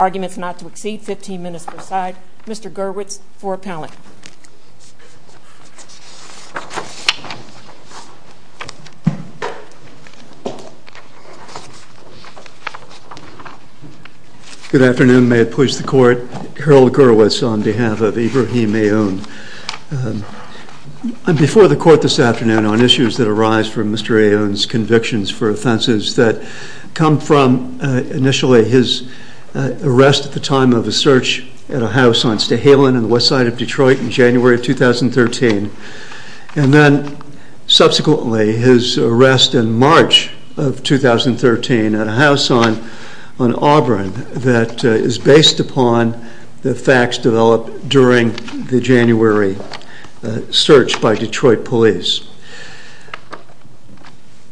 Arguments not to exceed 15 minutes per side. Mr. Gurwitz for appellate. Good afternoon. May it please the Court. Harold Gurwitz on behalf of Ibrahim Aoun. Before the for Mr. Aoun's convictions for offenses that come from initially his arrest at the time of a search at a house on Stahelin on the west side of Detroit in January of 2013. And then subsequently his arrest in March of 2013 at a house on Auburn that is based upon the January search by Detroit police.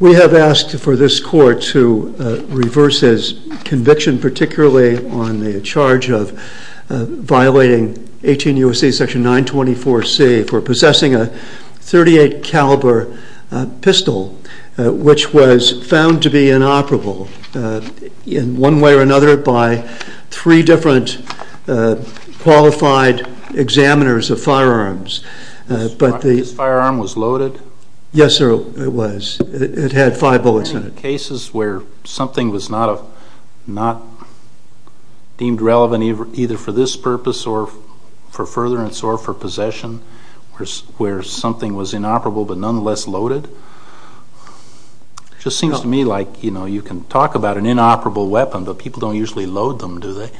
We have asked for this Court to reverse his conviction particularly on the charge of violating 18 U.S.C. section 924C for possessing a .38 caliber pistol which was found to be inoperable in one way or another by three different qualified examiners of firearms. This firearm was loaded? Yes sir it was. It had five bullets in it. Are there any cases where something was not deemed relevant either for this purpose or for furtherance or for possession where something was inoperable but nonetheless loaded? It just seems to me like you know you can talk about an inoperable weapon but people don't usually load them do they?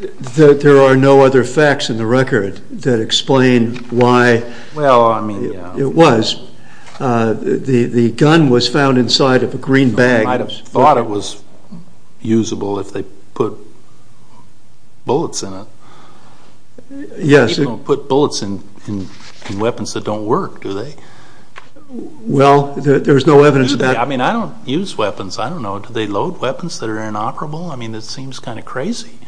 There are no other facts in the record that explain why it was. The gun was found inside of a green bag. They might have thought it was usable if they put bullets in it. Yes. People don't put bullets in weapons that don't work do they? Well there's no evidence of that. I mean I don't use weapons. I don't know. Do they load weapons that are inoperable? I mean it seems kind of crazy.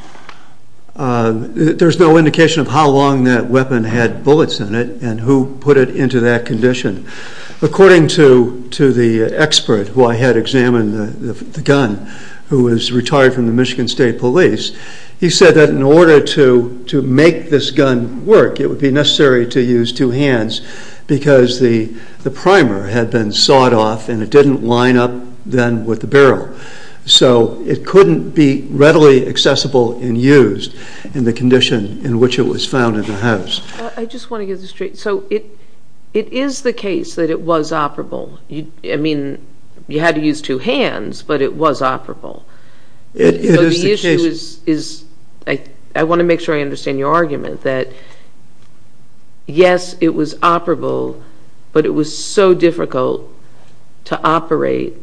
There's no indication of how long that weapon had bullets in it and who put it into that condition. According to the expert who I had examine the gun who was retired from the Michigan State Police, he said that in order to make this gun work it would be necessary to use two hands because the barrel. So it couldn't be readily accessible and used in the condition in which it was found in the house. I just want to get this straight. So it is the case that it was operable. I mean you had to use two hands but it was operable. It is the case. I want to make sure I understand your argument that yes it was operable but it was so difficult to operate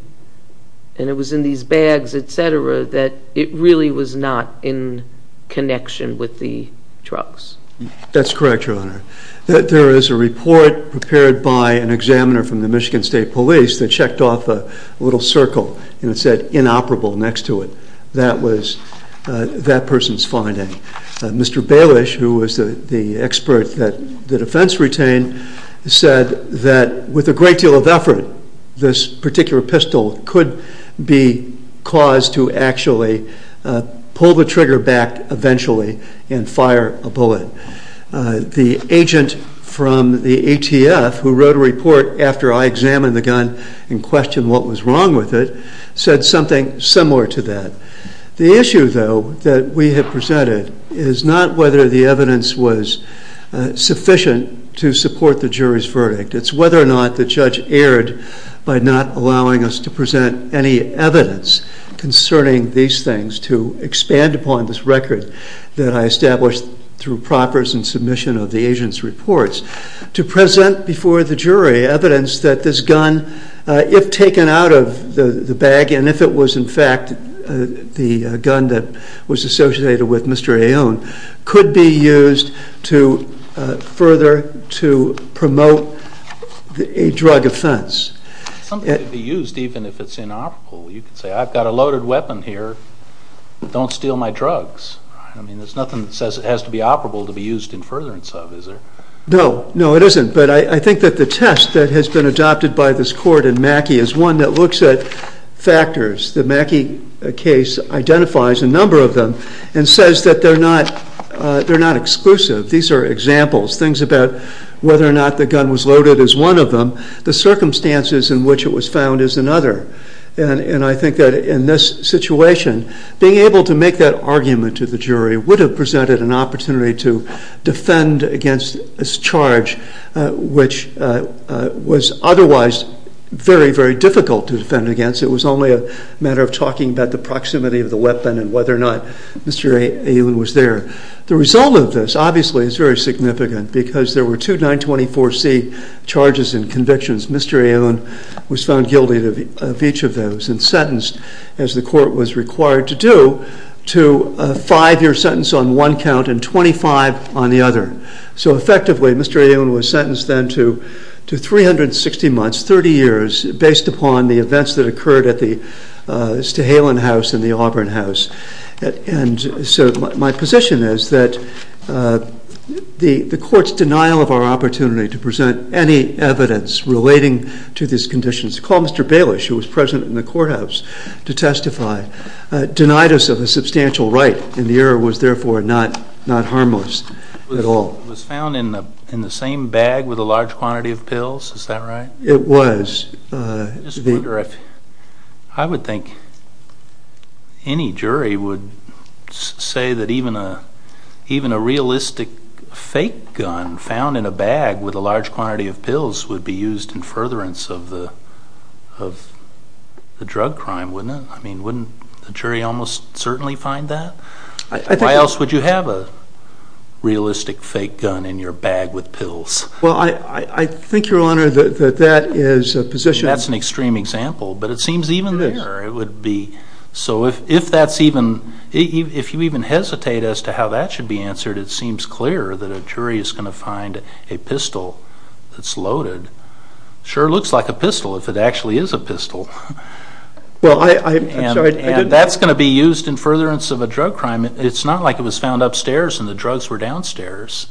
and it was in these bags etc. that it really was not in connection with the trucks. That's correct your honor. There is a report prepared by an examiner from the Michigan State Police that checked off a little circle and it said inoperable next to it. That was that person's finding. Mr. Bailish who was the expert that the defense retained said that with a great deal of effort this particular pistol could be caused to actually pull the trigger back eventually and fire a bullet. The agent from the ATF who wrote a report after I examined the gun and questioned what was wrong with it said something similar to that. The issue though that we have presented is not whether the evidence was sufficient to support the jury's verdict. It's whether or not the judge erred by not allowing us to present any evidence concerning these things to expand upon this record that I established through proffers and submission of the agent's reports to present before the jury evidence that this gun if taken out of the bag and if it was in fact the gun that was associated with Mr. Aon could be used to further to promote a drug offense. Something could be used even if it's inoperable. You could say I've got a loaded weapon here, don't steal my drugs. There's nothing that says it has to be operable to be used in furtherance of, is there? No, no it isn't. But I think that the test that has been adopted by this court in Mackey is one that looks at factors. The Mackey case identifies a number of them and says that they're not exclusive. These are examples. Things about whether or not the gun was loaded is one of them. The circumstances in which it was found is another. And I think that in this situation being able to make that argument to the jury would have presented an opportunity to defend against this charge which was otherwise very, very difficult to defend against. It was only a matter of talking about the proximity of the weapon and whether or not Mr. Aon was there. The result of this obviously is very significant because there were two 924C charges and convictions. Mr. Aon was found guilty of each of those and sentenced, as the court was required to do, to a five-year sentence on one count and 25 on the other. So effectively Mr. Aon was sentenced then to 360 months, 30 years, based upon the events that occurred at the Stahelin House and the Auburn House. So my position is that the court's denial of our opportunity to present any evidence relating to these conditions, to call Mr. Bailish, who was present in the courthouse to testify, denied us of a substantial right and the error was therefore not harmless at all. It was found in the same bag with a large quantity of pills, is that right? It was. I would think any jury would say that even a realistic fake gun found in a bag with a large quantity of pills would be used in furtherance of the drug crime, wouldn't it? I mean, wouldn't the jury almost certainly find that? Why else would you have a realistic fake gun in your bag with pills? Well, I think, Your Honor, that that is a position. That's an extreme example, but it seems even there it would be. So if that's even, if you even hesitate as to how that should be answered, it seems clear that a jury is going to find a pistol that's loaded. Sure looks like a pistol if it actually is a pistol. Well, I'm sorry. And that's going to be used in furtherance of a drug crime. It's not like it was found upstairs and the drugs were downstairs.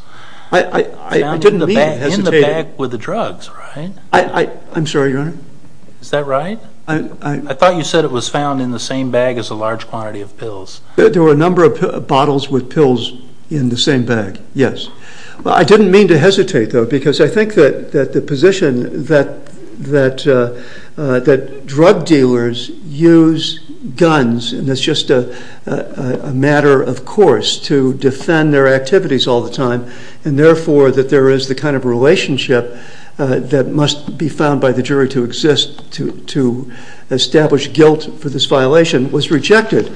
I didn't mean to hesitate. In the bag with the drugs, right? I'm sorry, Your Honor? Is that right? I thought you said it was found in the same bag as a large quantity of pills. There were a number of bottles with pills in the same bag, yes. I didn't mean to hesitate, though, because I think that the position that drug dealers use guns, and it's just a matter of course to defend their activities all the time, and, therefore, that there is the kind of relationship that must be found by the jury to exist to establish guilt for this violation was rejected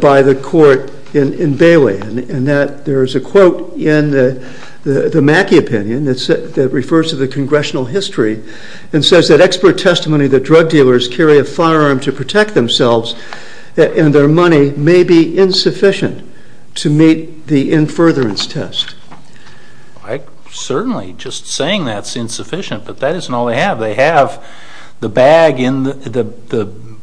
by the court in Bailey. And there is a quote in the Mackey opinion that refers to the congressional history and says that expert testimony that drug dealers carry a firearm to protect themselves and their money may be insufficient to meet the in furtherance test. Certainly, just saying that's insufficient, but that isn't all they have. They have the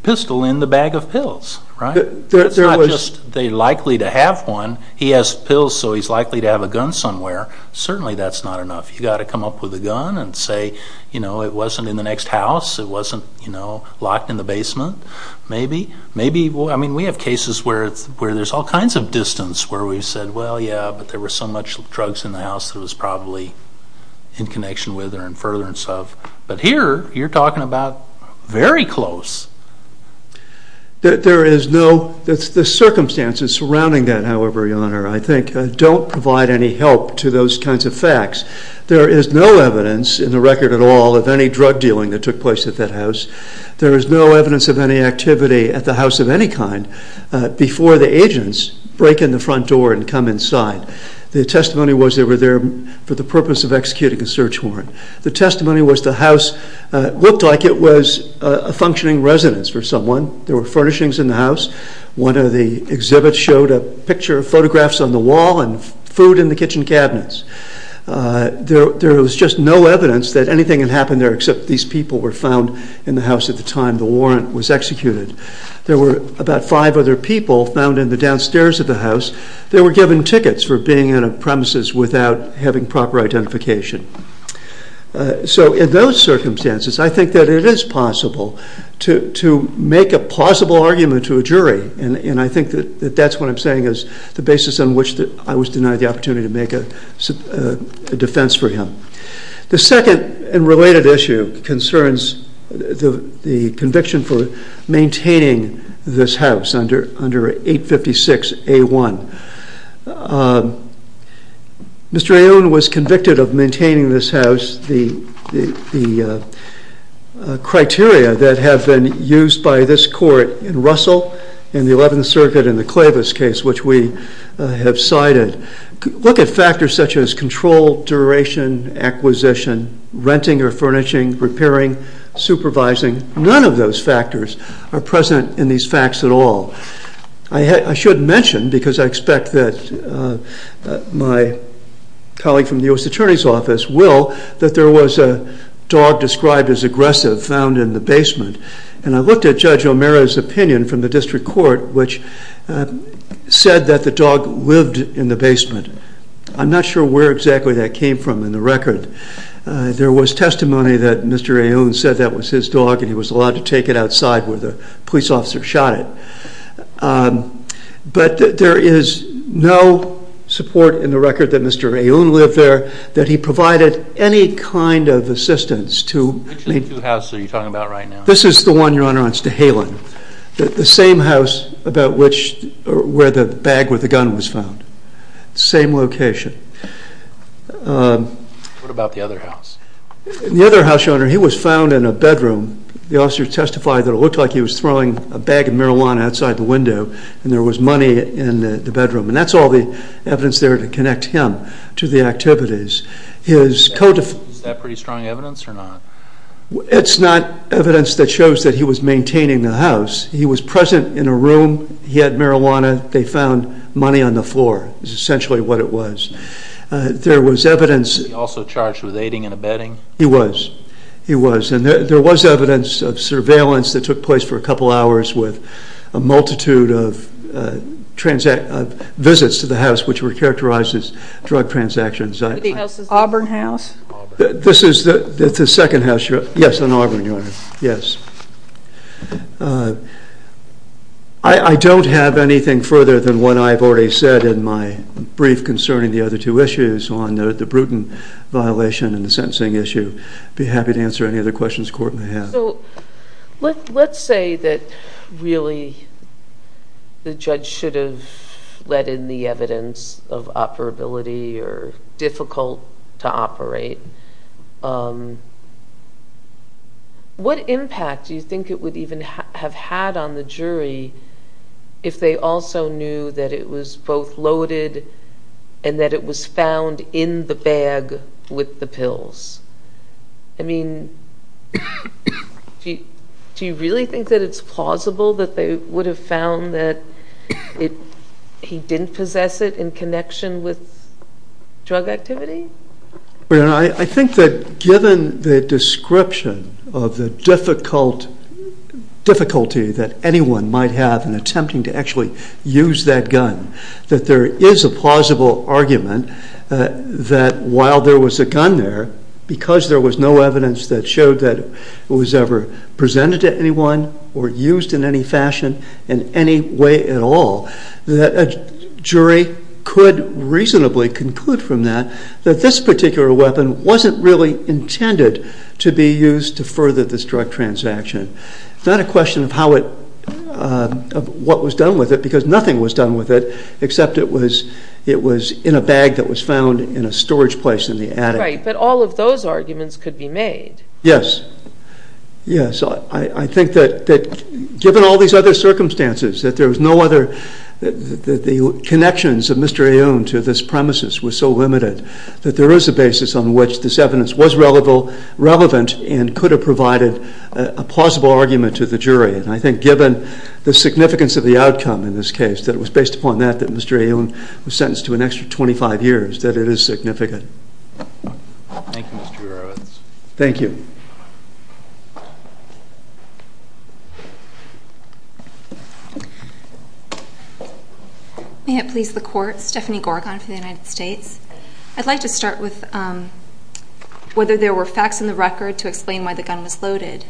pistol in the bag of pills, right? It's not just they're likely to have one. He has pills, so he's likely to have a gun somewhere. Certainly that's not enough. You've got to come up with a gun and say, you know, it wasn't in the next house. It wasn't, you know, locked in the basement. Maybe. Maybe. I mean, we have cases where there's all kinds of distance where we've said, well, yeah, but there were so much drugs in the house that it was probably in connection with or in furtherance of. But here you're talking about very close. There is no, the circumstances surrounding that, however, Your Honor, I think, don't provide any help to those kinds of facts. There is no evidence in the record at all of any drug dealing that took place at that house. There is no evidence of any activity at the house of any kind before the agents break in the front door and come inside. The testimony was they were there for the purpose of executing a search warrant. The testimony was the house looked like it was a functioning residence for someone. There were furnishings in the house. One of the exhibits showed a picture of photographs on the wall and food in the kitchen cabinets. There was just no evidence that anything had happened there except these people were found in the house at the time the warrant was executed. There were about five other people found in the downstairs of the house. They were given tickets for being in a premises without having proper identification. So in those circumstances, I think that it is possible to make a plausible argument to a jury, and I think that that's what I'm saying is the basis on which I was denied the opportunity to make a defense for him. The second and related issue concerns the conviction for maintaining this house under 856A1. Mr. Aoun was convicted of maintaining this house. The criteria that have been used by this court in Russell and the 11th Circuit in the Clavis case, which we have cited, look at factors such as control, duration, acquisition, renting or furnishing, repairing, supervising. None of those factors are present in these facts at all. I should mention, because I expect that my colleague from the U.S. Attorney's Office will, that there was a dog described as aggressive found in the basement. And I looked at Judge O'Meara's opinion from the district court, which said that the dog lived in the basement. I'm not sure where exactly that came from in the record. There was testimony that Mr. Aoun said that was his dog and he was allowed to take it outside where the police officer shot it. But there is no support in the record that Mr. Aoun lived there, that he provided any kind of assistance to... Which of the two houses are you talking about right now? This is the one, Your Honor, on Stahelen. The same house about which, where the bag with the gun was found. Same location. What about the other house? The other house, Your Honor, he was found in a bedroom. The officer testified that it looked like he was throwing a bag of marijuana outside the window and there was money in the bedroom. And that's all the evidence there to connect him to the activities. Is that pretty strong evidence or not? It's not evidence that shows that he was maintaining the house. He was present in a room. He had marijuana. They found money on the floor is essentially what it was. There was evidence... Was he also charged with aiding and abetting? He was. He was. And there was evidence of surveillance that took place for a couple hours with a multitude of visits to the house which were characterized as drug transactions. The Auburn house? This is the second house, Your Honor. Yes, on Auburn, Your Honor. Yes. I don't have anything further than what I've already said in my brief concerning the other two issues on the Bruton violation and the sentencing issue. I'd be happy to answer any other questions the court may have. So let's say that really the judge should have let in the evidence of operability or difficult to operate. What impact do you think it would even have had on the jury if they also knew that it was both loaded and that it was found in the bag with the pills? I mean, do you really think that it's plausible that they would have found that he didn't possess it in connection with drug activity? I think that given the description of the difficulty that anyone might have in attempting to actually use that gun, that there is a plausible argument that while there was a gun there, because there was no evidence that showed that it was ever presented to anyone or used in any fashion in any way at all, that a jury could reasonably conclude from that that this particular weapon wasn't really intended to be used to further this drug transaction. It's not a question of what was done with it because nothing was done with it except it was in a bag that was found in a storage place in the attic. Right, but all of those arguments could be made. Yes, yes. I think that given all these other circumstances, that there was no other, that the connections of Mr. Aoun to this premises were so limited that there is a basis on which this evidence was relevant and could have provided a plausible argument to the jury. And I think given the significance of the outcome in this case, that it was based upon that, that Mr. Aoun was sentenced to an extra 25 years, that it is significant. Thank you, Mr. Earwitz. Thank you. May it please the Court, Stephanie Gorgon for the United States. I'd like to start with whether there were facts in the record to explain why the gun was loaded.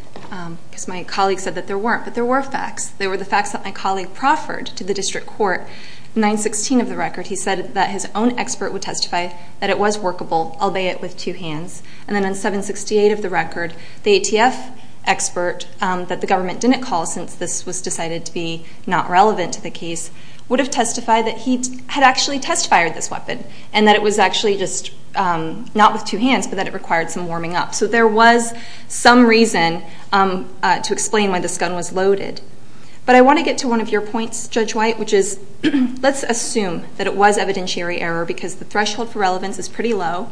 Because my colleague said that there weren't, but there were facts. There were the facts that my colleague proffered to the District Court. In 916 of the record, he said that his own expert would testify that it was workable, albeit with two hands. And then in 768 of the record, the ATF expert that the government didn't call since this was decided to be not relevant to the case, would have testified that he had actually test fired this weapon, and that it was actually just not with two hands, but that it required some warming up. So there was some reason to explain why this gun was loaded. But I want to get to one of your points, Judge White, which is, let's assume that it was evidentiary error because the threshold for relevance is pretty low,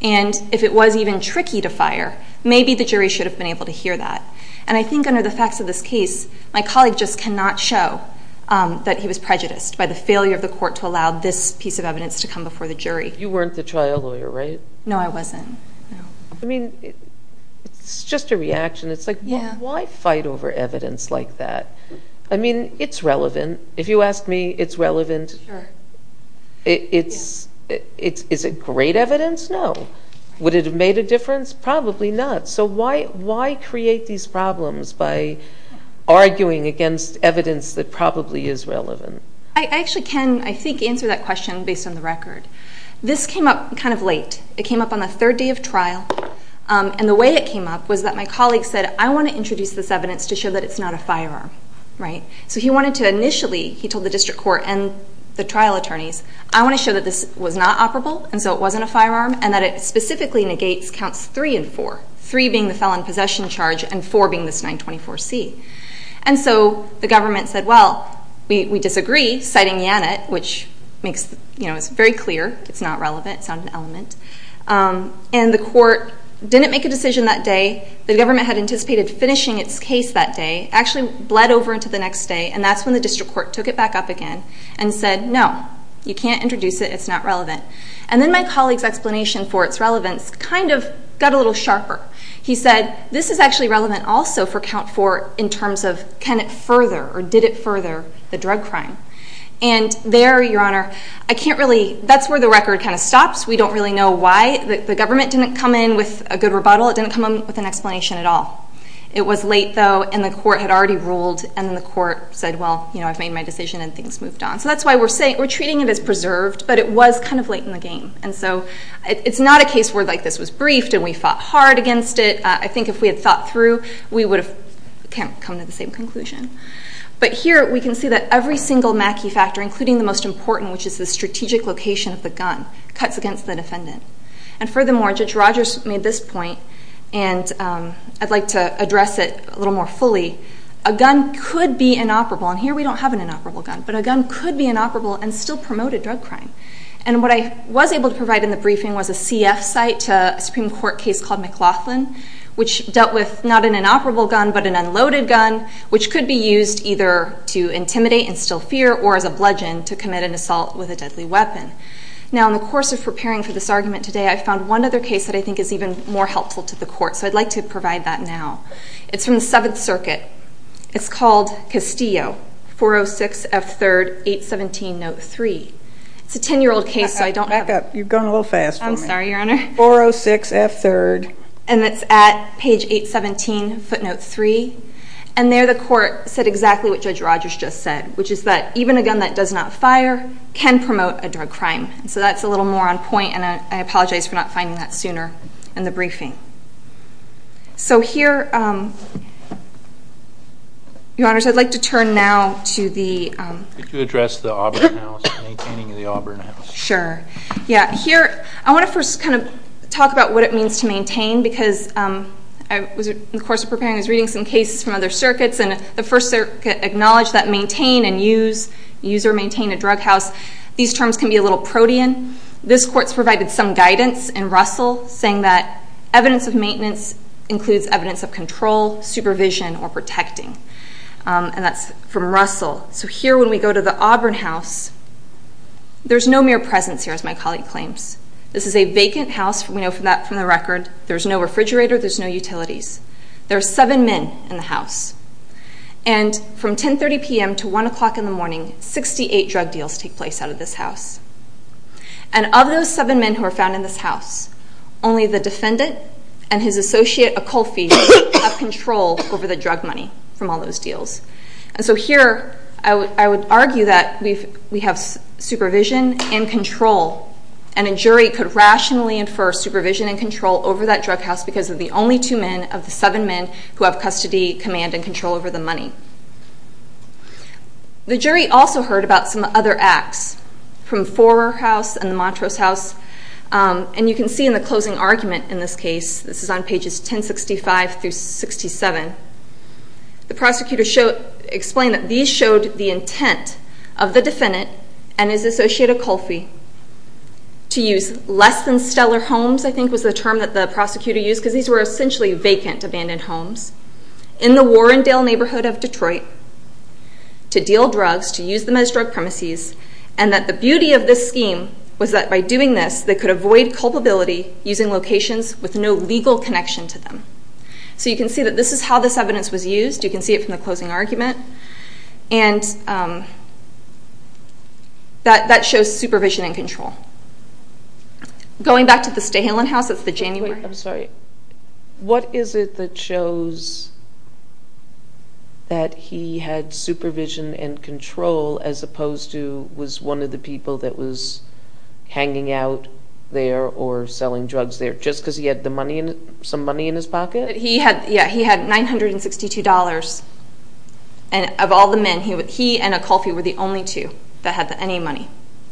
and if it was even tricky to fire, maybe the jury should have been able to hear that. And I think under the facts of this case, my colleague just cannot show that he was prejudiced by the failure of the Court to allow this piece of evidence to come before the jury. You weren't the trial lawyer, right? No, I wasn't. I mean, it's just a reaction. It's like, why fight over evidence like that? I mean, it's relevant. If you ask me, it's relevant. Sure. Is it great evidence? No. Would it have made a difference? Probably not. So why create these problems by arguing against evidence that probably is relevant? I actually can, I think, answer that question based on the record. This came up kind of late. It came up on the third day of trial, and the way it came up was that my colleague said, I want to introduce this evidence to show that it's not a firearm, right? So he wanted to initially, he told the district court and the trial attorneys, I want to show that this was not operable and so it wasn't a firearm and that it specifically negates counts 3 and 4, 3 being the felon possession charge and 4 being this 924C. And so the government said, well, we disagree, citing Yannet, which is very clear, it's not relevant, it's not an element. And the court didn't make a decision that day. The government had anticipated finishing its case that day, actually bled over into the next day, and that's when the district court took it back up again and said, no, you can't introduce it, it's not relevant. And then my colleague's explanation for its relevance kind of got a little sharper. He said, this is actually relevant also for count 4 in terms of can it further or did it further the drug crime. And there, Your Honor, I can't really, that's where the record kind of stops. We don't really know why. The government didn't come in with a good rebuttal. It didn't come in with an explanation at all. It was late, though, and the court had already ruled and then the court said, well, I've made my decision and things moved on. So that's why we're treating it as preserved, but it was kind of late in the game. And so it's not a case where like this was briefed and we fought hard against it. I think if we had thought through, we would have come to the same conclusion. But here we can see that every single Mackey factor, including the most important, which is the strategic location of the gun, cuts against the defendant. And furthermore, Judge Rogers made this point, and I'd like to address it a little more fully. A gun could be inoperable, and here we don't have an inoperable gun, but a gun could be inoperable and still promote a drug crime. And what I was able to provide in the briefing was a CF site to a Supreme Court case called McLaughlin, which dealt with not an inoperable gun but an unloaded gun, which could be used either to intimidate and instill fear or as a bludgeon to commit an assault with a deadly weapon. Now, in the course of preparing for this argument today, I found one other case that I think is even more helpful to the court, so I'd like to provide that now. It's from the Seventh Circuit. It's called Castillo, 406 F. 3rd, 817 Note 3. It's a 10-year-old case, so I don't have it. Back up. You've gone a little fast for me. I'm sorry, Your Honor. 406 F. 3rd. And it's at page 817, footnote 3. And there the court said exactly what Judge Rogers just said, which is that even a gun that does not fire can promote a drug crime. So that's a little more on point, and I apologize for not finding that sooner in the briefing. So here, Your Honors, I'd like to turn now to the... Could you address the Auburn House, maintaining the Auburn House? Sure. I want to first kind of talk about what it means to maintain because I was, in the course of preparing, I was reading some cases from other circuits, and the First Circuit acknowledged that maintain and use, use or maintain a drug house, these terms can be a little protean. This court's provided some guidance in Russell, saying that evidence of maintenance includes evidence of control, supervision, or protecting. And that's from Russell. So here, when we go to the Auburn House, there's no mere presence here, as my colleague claims. This is a vacant house. We know that from the record. There's no refrigerator. There's no utilities. There are seven men in the house. And from 10.30 p.m. to 1 o'clock in the morning, 68 drug deals take place out of this house. And of those seven men who are found in this house, only the defendant and his associate, Acolfi, have control over the drug money from all those deals. And so here, I would argue that we have supervision and control, and a jury could rationally infer supervision and control over that drug house because of the only two men of the seven men who have custody, command, and control over the money. The jury also heard about some other acts from Forer House and the Montrose House. And you can see in the closing argument in this case, this is on pages 1065 through 67, the prosecutor explained that these showed the intent of the defendant and his associate, Acolfi, to use less-than-stellar homes, I think was the term that the prosecutor used because these were essentially vacant, abandoned homes, in the Warrendale neighborhood of Detroit to deal drugs, to use them as drug premises, and that the beauty of this scheme was that by doing this, they could avoid culpability using locations with no legal connection to them. So you can see that this is how this evidence was used. You can see it from the closing argument. And that shows supervision and control. Going back to the Stahelin House, that's the January... Wait, I'm sorry. What is it that shows that he had supervision and control as opposed to was one of the people that was hanging out there or selling drugs there just because he had some money in his pocket? Yeah, he had $962, and of all the men, he and Acolfi were the only two that had any money.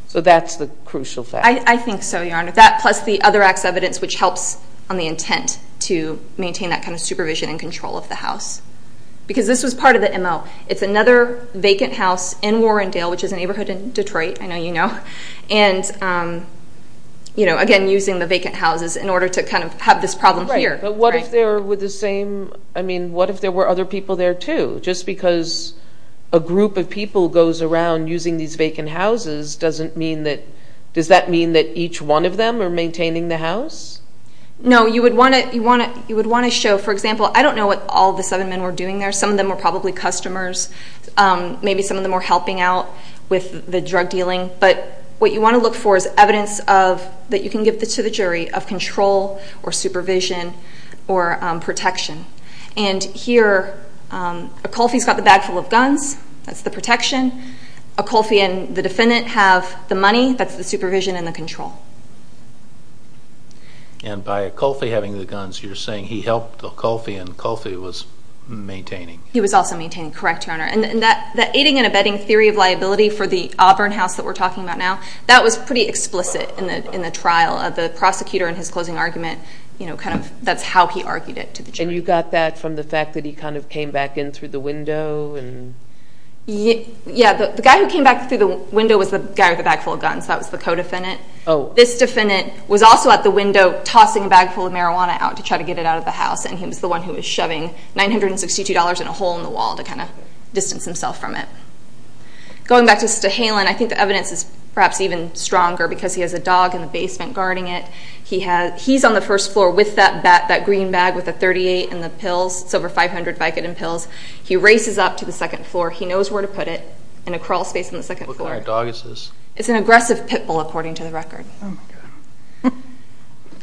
So that's the crucial fact. I think so, Your Honor. That plus the other acts of evidence which helps on the intent to maintain that kind of supervision and control of the house because this was part of the MO. It's another vacant house in Warrendale, which is a neighborhood in Detroit. I know you know. And, again, using the vacant houses in order to kind of have this problem here. But what if there were other people there too? Just because a group of people goes around using these vacant houses, does that mean that each one of them are maintaining the house? No. You would want to show, for example, I don't know what all the seven men were doing there. Some of them were probably customers. Maybe some of them were helping out with the drug dealing. But what you want to look for is evidence that you can give to the jury of control or supervision or protection. And here, Acolfi's got the bag full of guns. That's the protection. Acolfi and the defendant have the money. That's the supervision and the control. And by Acolfi having the guns, you're saying he helped Acolfi and Acolfi was maintaining. He was also maintaining. Correct, Your Honor. And that aiding and abetting theory of liability for the Auburn house that we're talking about now, that was pretty explicit in the trial of the prosecutor in his closing argument. That's how he argued it to the jury. And you got that from the fact that he kind of came back in through the window? Yeah. The guy who came back through the window was the guy with the bag full of guns. That was the co-defendant. This defendant was also at the window tossing a bag full of marijuana out to try to get it out of the house, and he was the one who was shoving $962 in a hole in the wall to kind of distance himself from it. Going back to Stahelin, I think the evidence is perhaps even stronger because he has a dog in the basement guarding it. He's on the first floor with that green bag with the .38 and the pills. It's over 500 Vicodin pills. He races up to the second floor. He knows where to put it in a crawl space on the second floor. What kind of dog is this? It's an aggressive pit bull, according to the record. Oh, my God.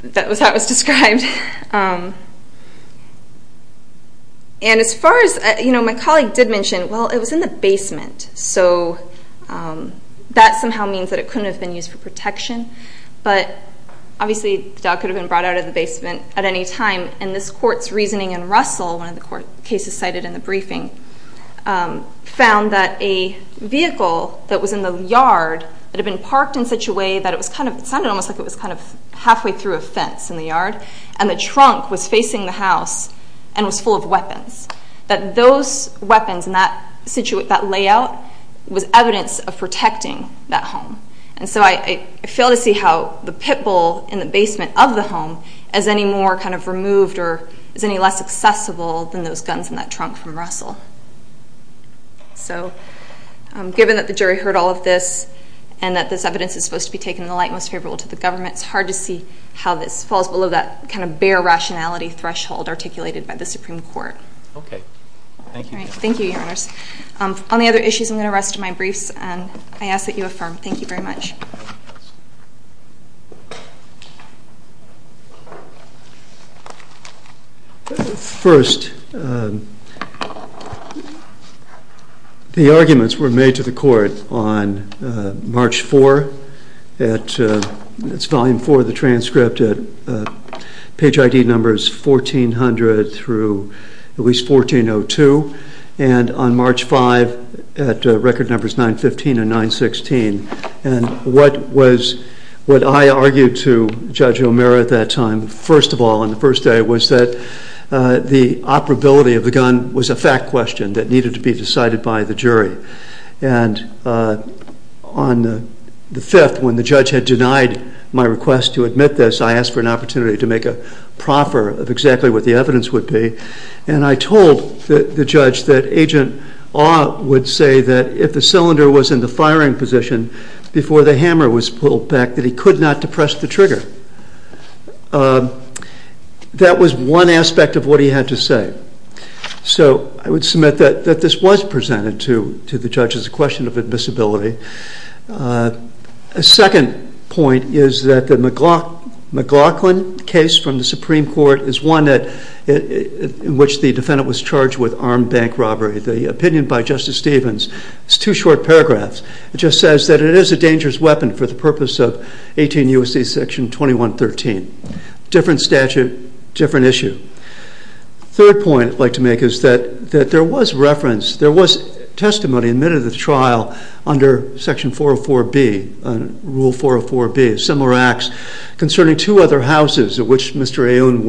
That was how it was described. As far as my colleague did mention, well, it was in the basement, so that somehow means that it couldn't have been used for protection. But obviously the dog could have been brought out of the basement at any time, and this court's reasoning in Russell, one of the cases cited in the briefing, found that a vehicle that was in the yard had been parked in such a way that it was kind of halfway through a fence in the yard, and the trunk was facing the house and was full of weapons, that those weapons in that layout was evidence of protecting that home. And so I fail to see how the pit bull in the basement of the home is any more kind of removed or is any less accessible than those guns in that trunk from Russell. So given that the jury heard all of this and that this evidence is supposed to be taken in the light and most favorable to the government, it's hard to see how this falls below that kind of bare rationality threshold articulated by the Supreme Court. Okay. Thank you. All right. Thank you, Your Honors. On the other issues, I'm going to rest my briefs, and I ask that you affirm. Thank you very much. First, the arguments were made to the court on March 4. It's Volume 4 of the transcript. Page ID numbers 1400 through at least 1402, and on March 5 at record numbers 915 and 916. And what I argued to Judge O'Meara at that time, first of all on the first day, was that the operability of the gun was a fact question that needed to be decided by the jury. And on the 5th, when the judge had denied my request to admit this, I asked for an opportunity to make a proffer of exactly what the evidence would be, and I told the judge that Agent Awe would say that if the cylinder was in the firing position before the hammer was pulled back, that he could not depress the trigger. That was one aspect of what he had to say. So I would submit that this was presented to the judge as a question of admissibility. A second point is that the McLaughlin case from the Supreme Court is one in which the defendant was charged with armed bank robbery. The opinion by Justice Stevens is two short paragraphs. It just says that it is a dangerous weapon for the purpose of 18 U.S.C. Section 2113. Different statute, different issue. Third point I'd like to make is that there was reference, there was testimony in the middle of the trial under Section 404B, Rule 404B, similar acts concerning two other houses in which Mr. Aoun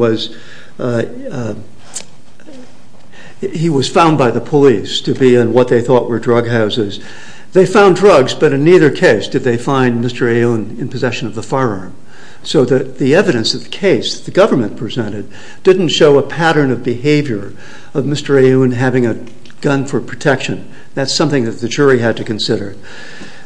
was found by the police to be in what they thought were drug houses. They found drugs, but in neither case did they find Mr. Aoun in possession of the firearm. So the evidence of the case the government presented didn't show a pattern of behavior of Mr. Aoun having a gun for protection. That's something that the jury had to consider.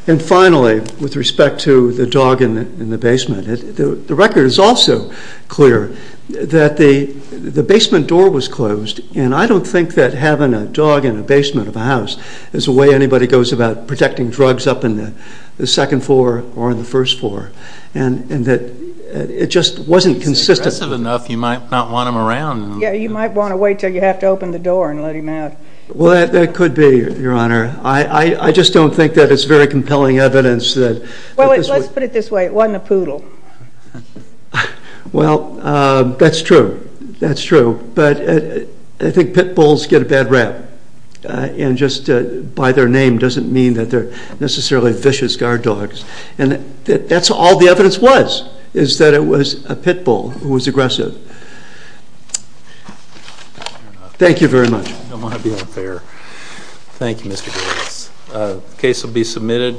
And finally, with respect to the dog in the basement, the record is also clear that the basement door was closed and I don't think that having a dog in a basement of a house is the way anybody goes about protecting drugs up in the second floor or in the first floor. And that it just wasn't consistent. It's aggressive enough you might not want him around. Yeah, you might want to wait until you have to open the door and let him out. Well, that could be, Your Honor. I just don't think that it's very compelling evidence that... Well, let's put it this way. It wasn't a poodle. Well, that's true. That's true. But I think pit bulls get a bad rap. And just by their name doesn't mean that they're necessarily vicious guard dogs. And that's all the evidence was, is that it was a pit bull who was aggressive. Thank you very much. I don't want to be unfair. Thank you, Mr. Gibbs. The case will be submitted.